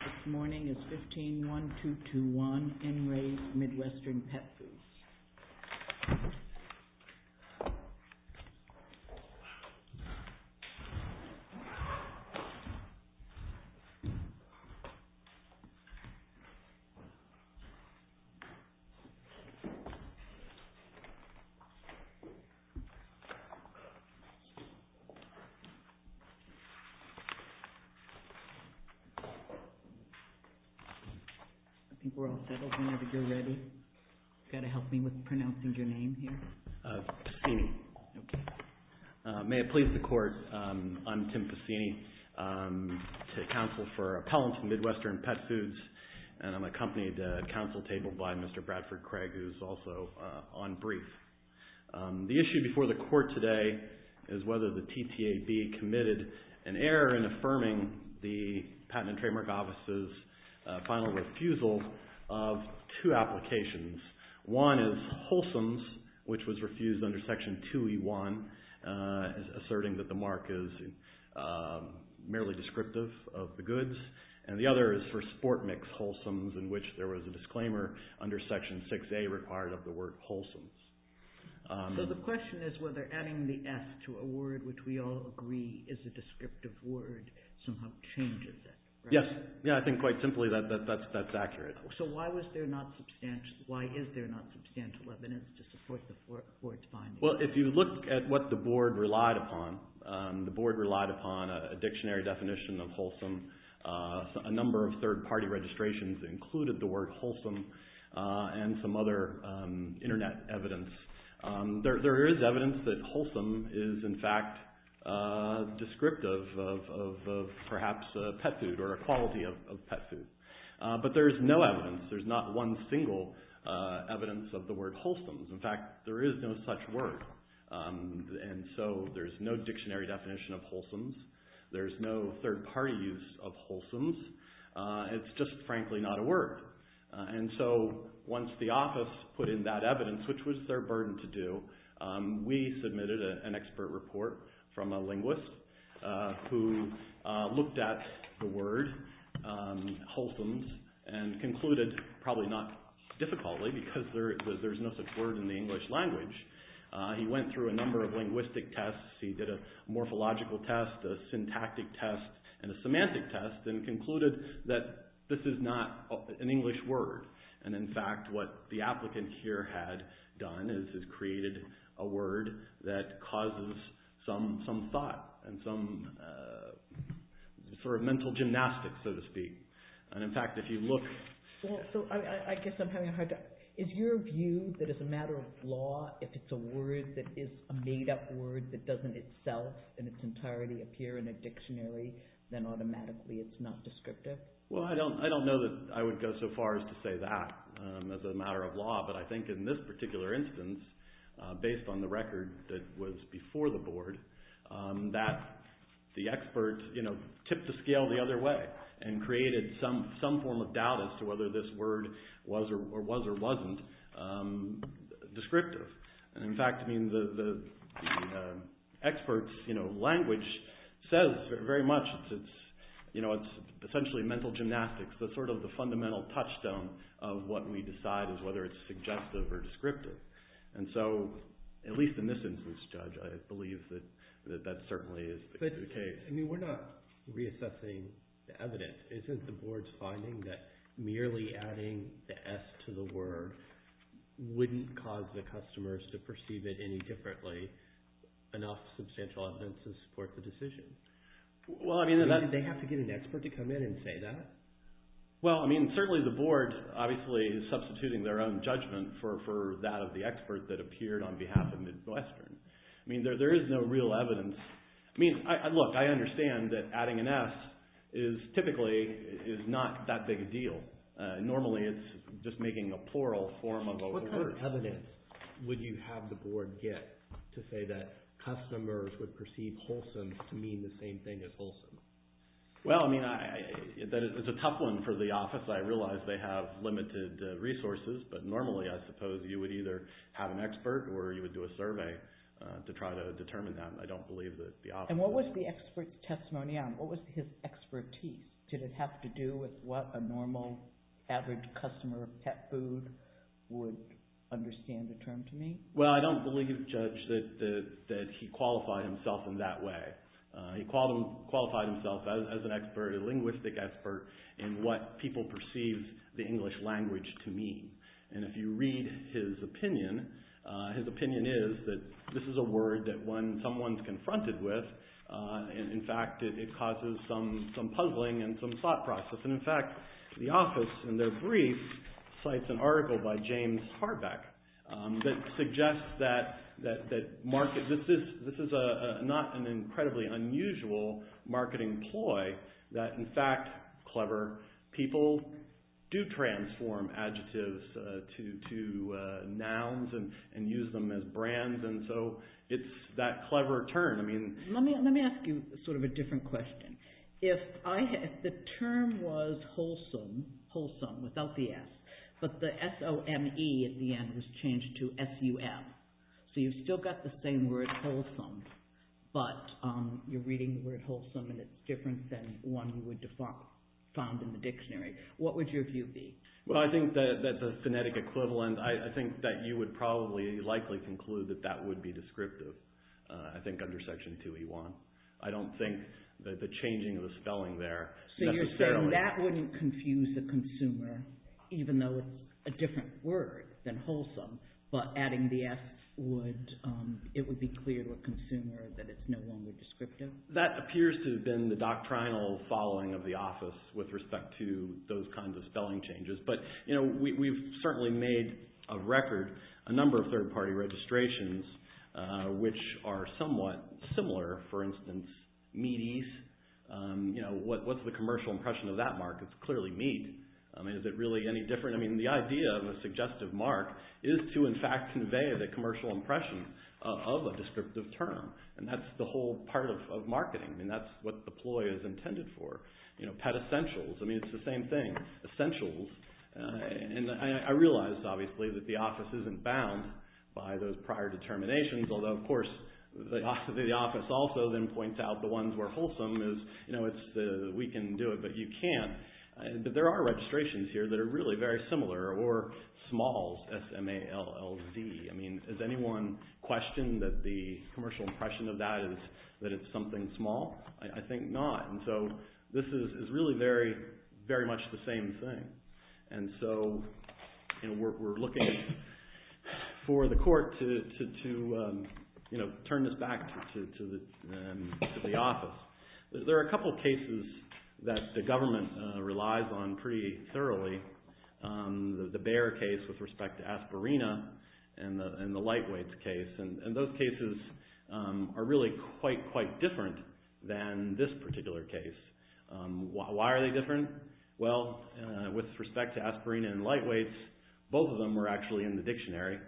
This morning is 15-1-2-2-1, NRA Midwestern Pet Foods. The issue before the Court today is whether the TTAB committed an error in affirming the final refusal of two applications. One is wholesome, which was refused under Section 2E1, asserting that the mark is merely descriptive of the goods. And the other is for sport mix wholesome, in which there was a disclaimer under Section 6A required of the word wholesome. So the question is whether adding the F to a word which we all agree is a descriptive word somehow changes it, right? Yes. Yeah, I think quite simply that's accurate. So why is there not substantial evidence to support the Court's finding? Well, if you look at what the Board relied upon, the Board relied upon a dictionary definition of wholesome, a number of third-party registrations included the word wholesome, and some other internet evidence. There is evidence that wholesome is, in fact, descriptive of perhaps a pet food or a quality of pet food. But there is no evidence. There's not one single evidence of the word wholesome. In fact, there is no such word. And so there's no dictionary definition of wholesome. There's no third-party use of wholesome. It's just, frankly, not a word. And so once the office put in that evidence, which was their burden to do, we submitted an expert report from a linguist who looked at the word wholesome and concluded probably not difficultly because there's no such word in the English language. He went through a number of linguistic tests. He did a morphological test, a syntactic test, and a semantic test and concluded that this is not an English word. And in fact, what the applicant here had done is created a word that causes some thought and some sort of mental gymnastics, so to speak. And in fact, if you look... So I guess I'm having a hard time. Is your view that as a matter of law, if it's a word that is a made-up word that doesn't itself in its entirety appear in a dictionary, then automatically it's not descriptive? Well, I don't know that I would go so far as to say that as a matter of law, but I think in this particular instance, based on the record that was before the board, that the expert tipped the scale the other way and created some form of doubt as to whether this word was or wasn't descriptive. And in fact, the expert's language says very much it's essentially mental gymnastics. That's sort of the fundamental touchstone of what we decide is whether it's suggestive or descriptive. And so, at least in this instance, Judge, I believe that that certainly is the case. But we're not reassessing the evidence. Isn't the board's finding that merely adding the S to the word wouldn't cause the customers to perceive it any differently enough substantial evidence to support the decision? Well, I mean... They have to get an expert to come in and say that? Well, I mean, certainly the board, obviously, is substituting their own judgment for that of the expert that appeared on behalf of Midwestern. I mean, there is no real evidence. I mean, look, I understand that adding an S typically is not that big a deal. Normally it's just making a plural form of a word. What kind of evidence would you have the board get to say that customers would perceive wholesome to mean the same thing as wholesome? Well, I mean, it's a tough one for the office. I realize they have limited resources, but normally I suppose you would either have an expert or you would do a survey to try to determine that. I don't believe that the office... And what was the expert's testimony on? What was his expertise? Did it have to do with what a normal, average customer of pet food would understand the term to mean? Well, I don't believe, Judge, that he qualified himself in that way. He qualified himself as an expert, a linguistic expert, in what people perceived the English language to mean. And if you read his opinion, his opinion is that this is a word that someone's confronted with. In fact, it causes some puzzling and some thought process. And in fact, the office, in their brief, cites an article by James Harbeck that suggests that this is not an incredibly unusual marketing ploy, that in fact, clever people do transform adjectives to nouns and use them as brands. And so it's that clever turn. Let me ask you sort of a different question. If the term was wholesome, wholesome without the S, but the S-O-M-E at the end was changed to S-U-M, so you've still got the same word, wholesome, but you're reading the word wholesome and it's different than one you would find in the dictionary, what would your view be? Well, I think that the phonetic equivalent, I think that you would probably likely conclude that that would be descriptive, I think, under Section 2E1. I don't think that the changing of the spelling there necessarily... So you're saying that wouldn't confuse the consumer, even though it's a different word than wholesome, but adding the S, it would be clear to a consumer that it's no longer descriptive? That appears to have been the doctrinal following of the office with respect to those kinds of spelling changes. But we've certainly made a record, a number of third-party registrations, which are somewhat similar. For instance, meaties, what's the commercial impression of that mark? It's clearly meat. I mean, is it really any different? I mean, the idea of a suggestive mark is to, in fact, convey the commercial impression of a descriptive term, and that's the whole part of marketing. I mean, that's what the ploy is intended for. You know, pet essentials. I mean, it's the same thing, essentials. And I realize, obviously, that the office isn't bound by those prior determinations, although, of course, the office also then points out the ones where wholesome is, you know, we can do it, but you can't. But there are registrations here that are really very similar, or smalls, S-M-A-L-L-Z. I mean, has anyone questioned that the commercial impression of that is that it's something small? I think not. And so, this is really very, very much the same thing. And so, you know, we're looking for the court to, you know, turn this back to the office. There are a couple cases that the government relies on pretty thoroughly. The Bayer case with respect to aspirina, and the Lightweights case, and those cases are really quite, quite different than this particular case. Why are they different? Well, with respect to aspirina and Lightweights, both of them were actually in the dictionary.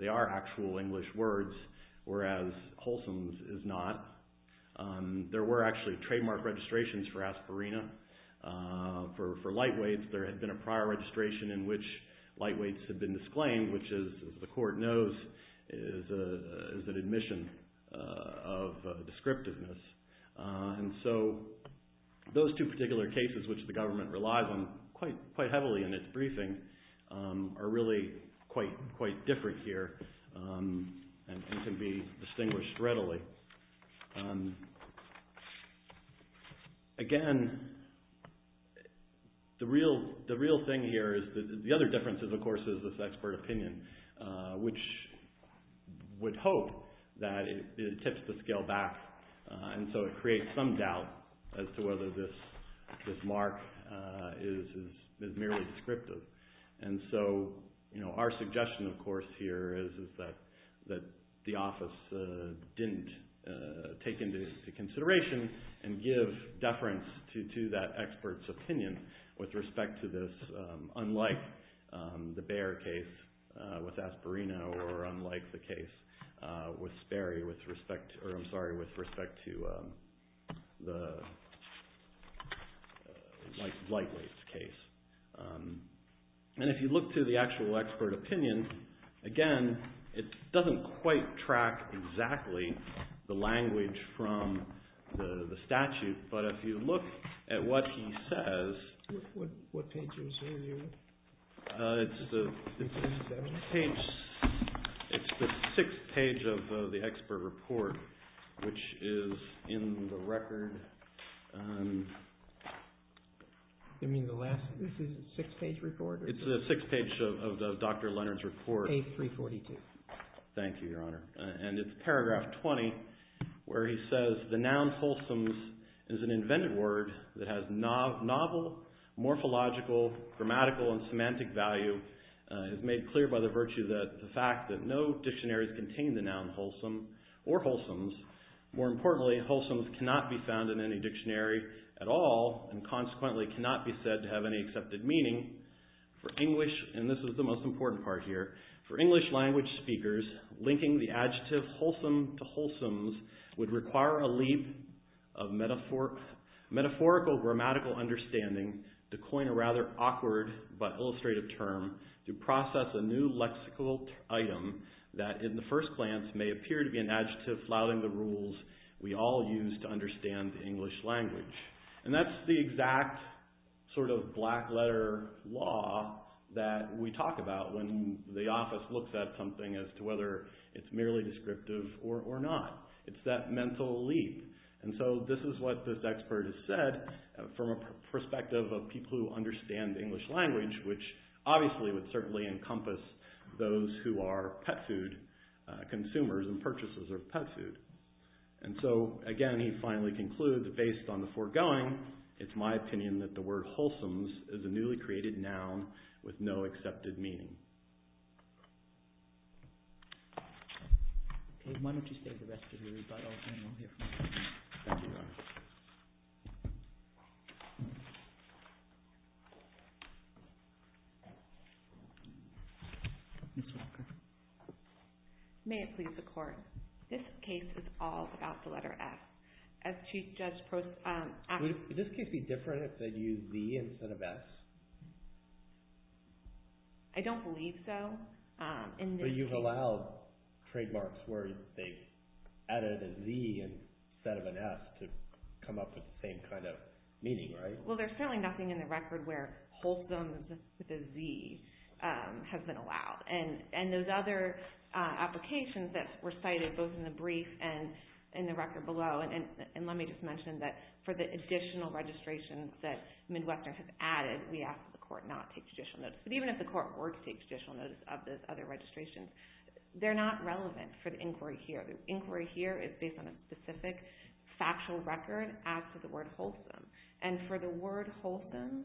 They are actual English words, whereas wholesome is not. There were actually trademark registrations for aspirina. For Lightweights, there had been a prior registration in which Lightweights had been disclaimed, which is, as the court knows, is an admission of descriptiveness. And so, those two particular cases which the government relies on quite heavily in its briefing are really quite different here, and can be distinguished readily. Again, the real thing here is that the other difference is, of course, is this expert opinion, which would hope that it tips the scale back. And so, it creates some doubt as to whether this mark is merely descriptive. And so, our suggestion, of course, here is that the office didn't take into consideration and give deference to that expert's opinion with respect to this, unlike the Bayer case with aspirina, or unlike the case with Sperry with respect to the Lightweights case. And if you look to the actual expert opinion, again, it doesn't quite track exactly the language from the statute, but if you look at what he says... It's the sixth page of the expert report, which is in the record... You mean the last... This is a six-page report? It's the sixth page of Dr. Leonard's report. Page 342. Thank you, Your Honor. And it's paragraph 20, where he says, The noun wholesome is an invented word that has novel, morphological, grammatical, and semantic value. It's made clear by the virtue of the fact that no dictionaries contain the noun wholesome or wholesomes. More importantly, wholesomes cannot be found in any dictionary at all, and consequently cannot be said to have any accepted meaning. For English, and this is the most important part here, for English-language speakers, linking the adjective wholesome to wholesomes would require a leap of metaphorical grammatical understanding to coin a rather awkward but illustrative term to process a new lexical item that, in the first glance, may appear to be an adjective flouting the rules we all use to understand the English language. And that's the exact sort of black-letter law that we talk about when the office looks at something as to whether it's merely descriptive or not. It's that mental leap. And so this is what this expert has said from a perspective of people who understand the English language, which obviously would certainly encompass those who are pet food consumers and purchases of pet food. And so, again, he finally concludes that based on the foregoing, it's my opinion that the word wholesomes is a newly created noun with no accepted meaning. OK. Why don't you save the rest of your rebuttal, and we'll hear from you. Thank you, Your Honor. Ms. Walker. May it please the Court. This case is all about the letter F. As Chief Judge prose— Would this case be different if they'd used Z instead of S? I don't believe so. But you've allowed trademarks where they've added a Z instead of an S to come up with the same kind of meaning, right? Well, there's certainly nothing in the record where wholesomes with a Z has been allowed. And those other applications that were cited both in the brief and in the record below— and let me just mention that for the additional registrations that Midwestern has added, we ask that the Court not take judicial notice. But even if the Court were to take judicial notice of those other registrations, they're not relevant for the inquiry here. The inquiry here is based on a specific factual record as to the word wholesome. And for the word wholesome,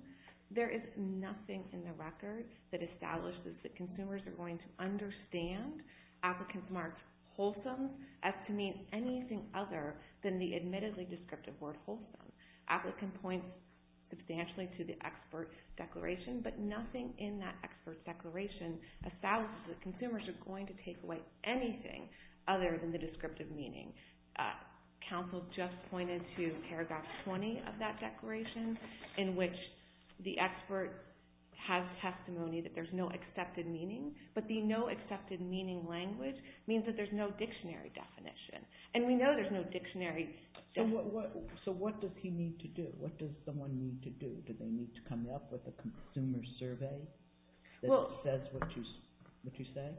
there is nothing in the record that establishes that consumers are going to understand applicants marked wholesome as to mean anything other than the admittedly descriptive word wholesome. Applicant points substantially to the expert declaration, but nothing in that expert declaration establishes that consumers are going to take away anything other than the descriptive meaning. Counsel just pointed to paragraph 20 of that declaration, in which the expert has testimony that there's no accepted meaning, but the no accepted meaning language means that there's no dictionary definition. And we know there's no dictionary definition. So what does he need to do? What does someone need to do? Do they need to come up with a consumer survey that says what you say?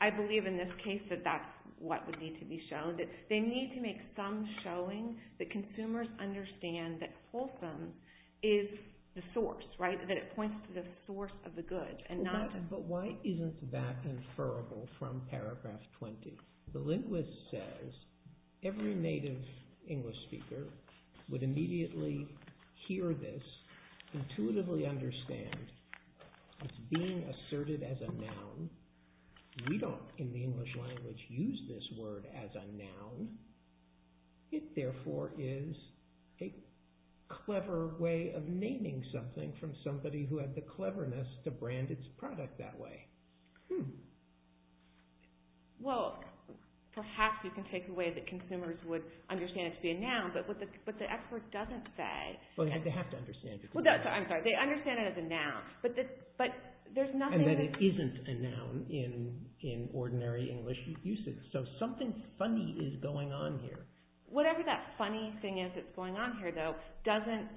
I believe in this case that that's what would need to be shown. They need to make some showing that consumers understand that wholesome is the source, right? That it points to the source of the good. But why isn't that inferrable from paragraph 20? The linguist says every native English speaker would immediately hear this, intuitively understand it's being asserted as a noun. We don't, in the English language, use this word as a noun. It therefore is a clever way of naming something from somebody who had the cleverness to brand its product that way. Well, perhaps you can take away that consumers would understand it to be a noun, but the expert doesn't say. They have to understand it. I'm sorry, they understand it as a noun. And that it isn't a noun in ordinary English usage. So something funny is going on here. Whatever that funny thing is that's going on here, though, doesn't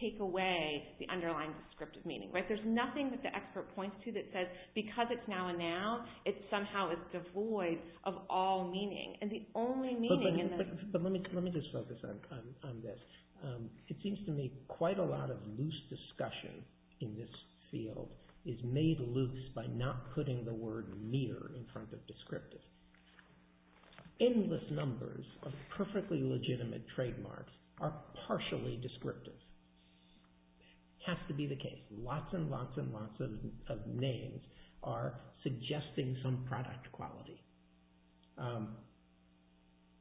take away the underlying descriptive meaning. There's nothing that the expert points to that says because it's now a noun, it somehow is devoid of all meaning. And the only meaning in this... But let me just focus on this. It seems to me quite a lot of loose discussion in this field is made loose by not putting the word mere in front of descriptive. Endless numbers of perfectly legitimate trademarks are partially descriptive. It has to be the case. Lots and lots and lots of names are suggesting some product quality.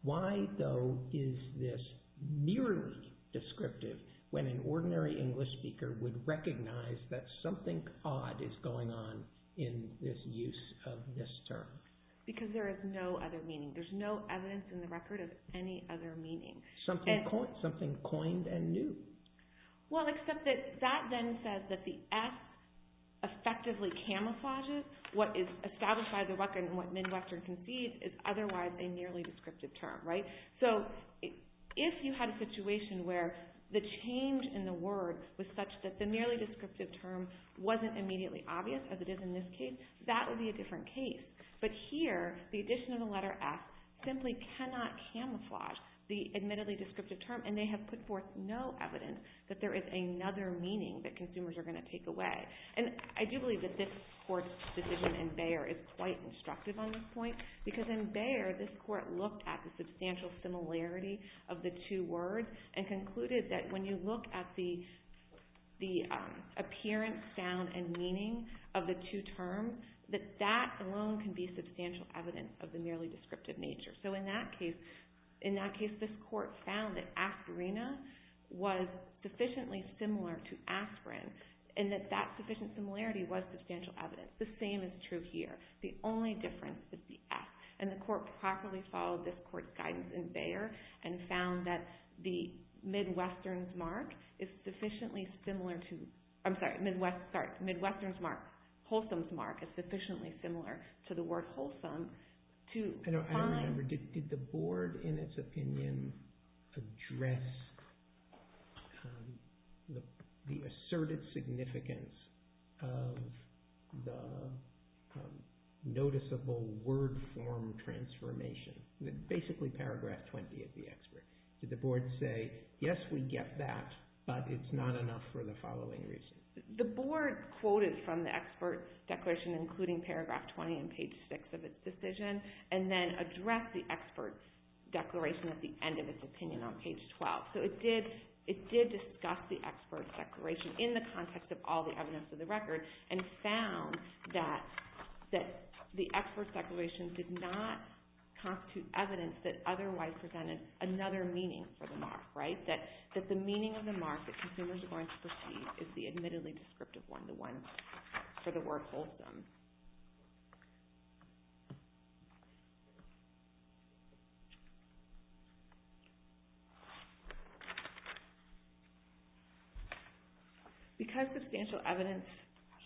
Why, though, is this merely descriptive when an ordinary English speaker would recognize that something odd is going on in this use of this term? Because there is no other meaning. There's no evidence in the record of any other meaning. Something coined and new. Well, except that that then says that the S effectively camouflages what is established by the record and what Midwestern concedes is otherwise a nearly descriptive term. So if you had a situation where the change in the word was such that the nearly descriptive term wasn't immediately obvious, as it is in this case, that would be a different case. But here, the addition of the letter S simply cannot camouflage the admittedly descriptive term. And they have put forth no evidence that there is another meaning that consumers are going to take away. And I do believe that this Court's decision in Bayer is quite instructive on this point. Because in Bayer, this Court looked at the substantial similarity of the two words and concluded that when you look at the appearance, sound, and meaning of the two terms, that that alone can be substantial evidence of the nearly descriptive nature. So in that case, this Court found that aspirina was sufficiently similar to aspirin and that that sufficient similarity was substantial evidence. The same is true here. The only difference is the S. And the Court properly followed this Court's guidance in Bayer and found that the Midwestern's mark is sufficiently similar to – I'm sorry, Midwestern's mark, Wholesome's mark is sufficiently similar to the word Wholesome to find – noticeable word form transformation. Basically, paragraph 20 of the expert. Did the Board say, yes, we get that, but it's not enough for the following reasons. The Board quoted from the expert's declaration, including paragraph 20 and page 6 of its decision, and then addressed the expert's declaration at the end of its opinion on page 12. So it did discuss the expert's declaration in the context of all the evidence of the record and found that the expert's declaration did not constitute evidence that otherwise presented another meaning for the mark. That the meaning of the mark that consumers are going to perceive is the admittedly descriptive one, the one for the word Wholesome. Because substantial evidence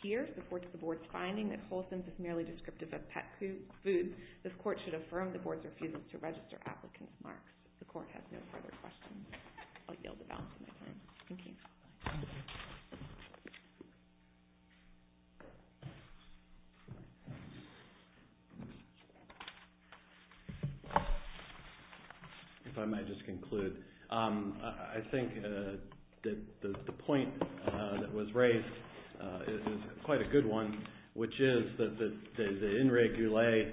here supports the Board's finding that Wholesome is merely descriptive of pet food, this Court should affirm the Board's refusal to register applicant's marks. The Court has no further questions. I'll yield the balance of my time. Thank you. Thank you. If I might just conclude. I think that the point that was raised is quite a good one, which is that the In Regulae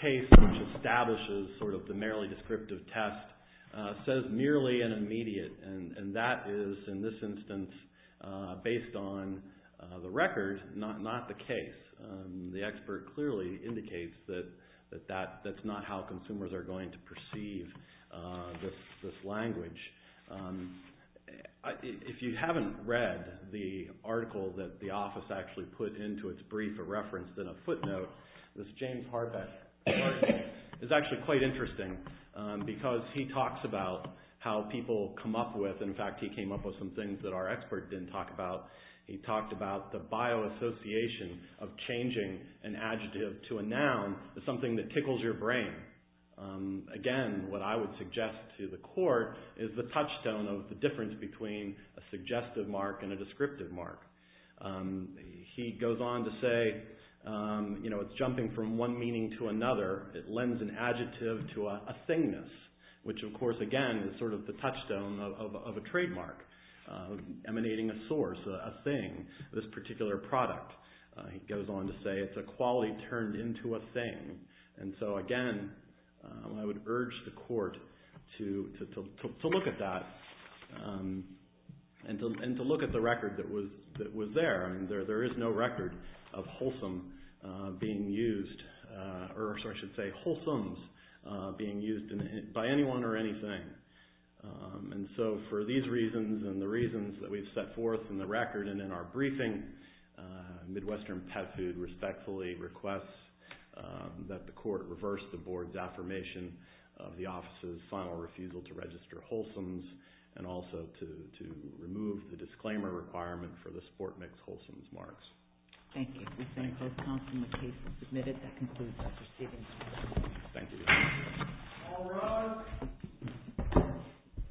case, which establishes sort of the merely descriptive test, says merely and immediate. And that is, in this instance, based on the record, not the case. The expert clearly indicates that that's not how consumers are going to perceive this language. If you haven't read the article that the office actually put into its brief, a reference and a footnote, this James Harbeck article is actually quite interesting. Because he talks about how people come up with – in fact, he came up with some things that our expert didn't talk about. He talked about the bioassociation of changing an adjective to a noun is something that tickles your brain. Again, what I would suggest to the Court is the touchstone of the difference between a suggestive mark and a descriptive mark. He goes on to say it's jumping from one meaning to another. It lends an adjective to a thingness, which of course, again, is sort of the touchstone of a trademark emanating a source, a thing, this particular product. He goes on to say it's a quality turned into a thing. Again, I would urge the Court to look at that and to look at the record that was there. There is no record of wholesomes being used by anyone or anything. For these reasons and the reasons that we've set forth in the record and in our briefing, Midwestern Pet Food respectfully requests that the Court reverse the Board's affirmation of the office's final refusal to register wholesomes and also to remove the disclaimer requirement for the sport mix wholesomes marks. Thank you. We thank both counsel and the case is submitted. That concludes Dr. Stevens. Thank you. All rise.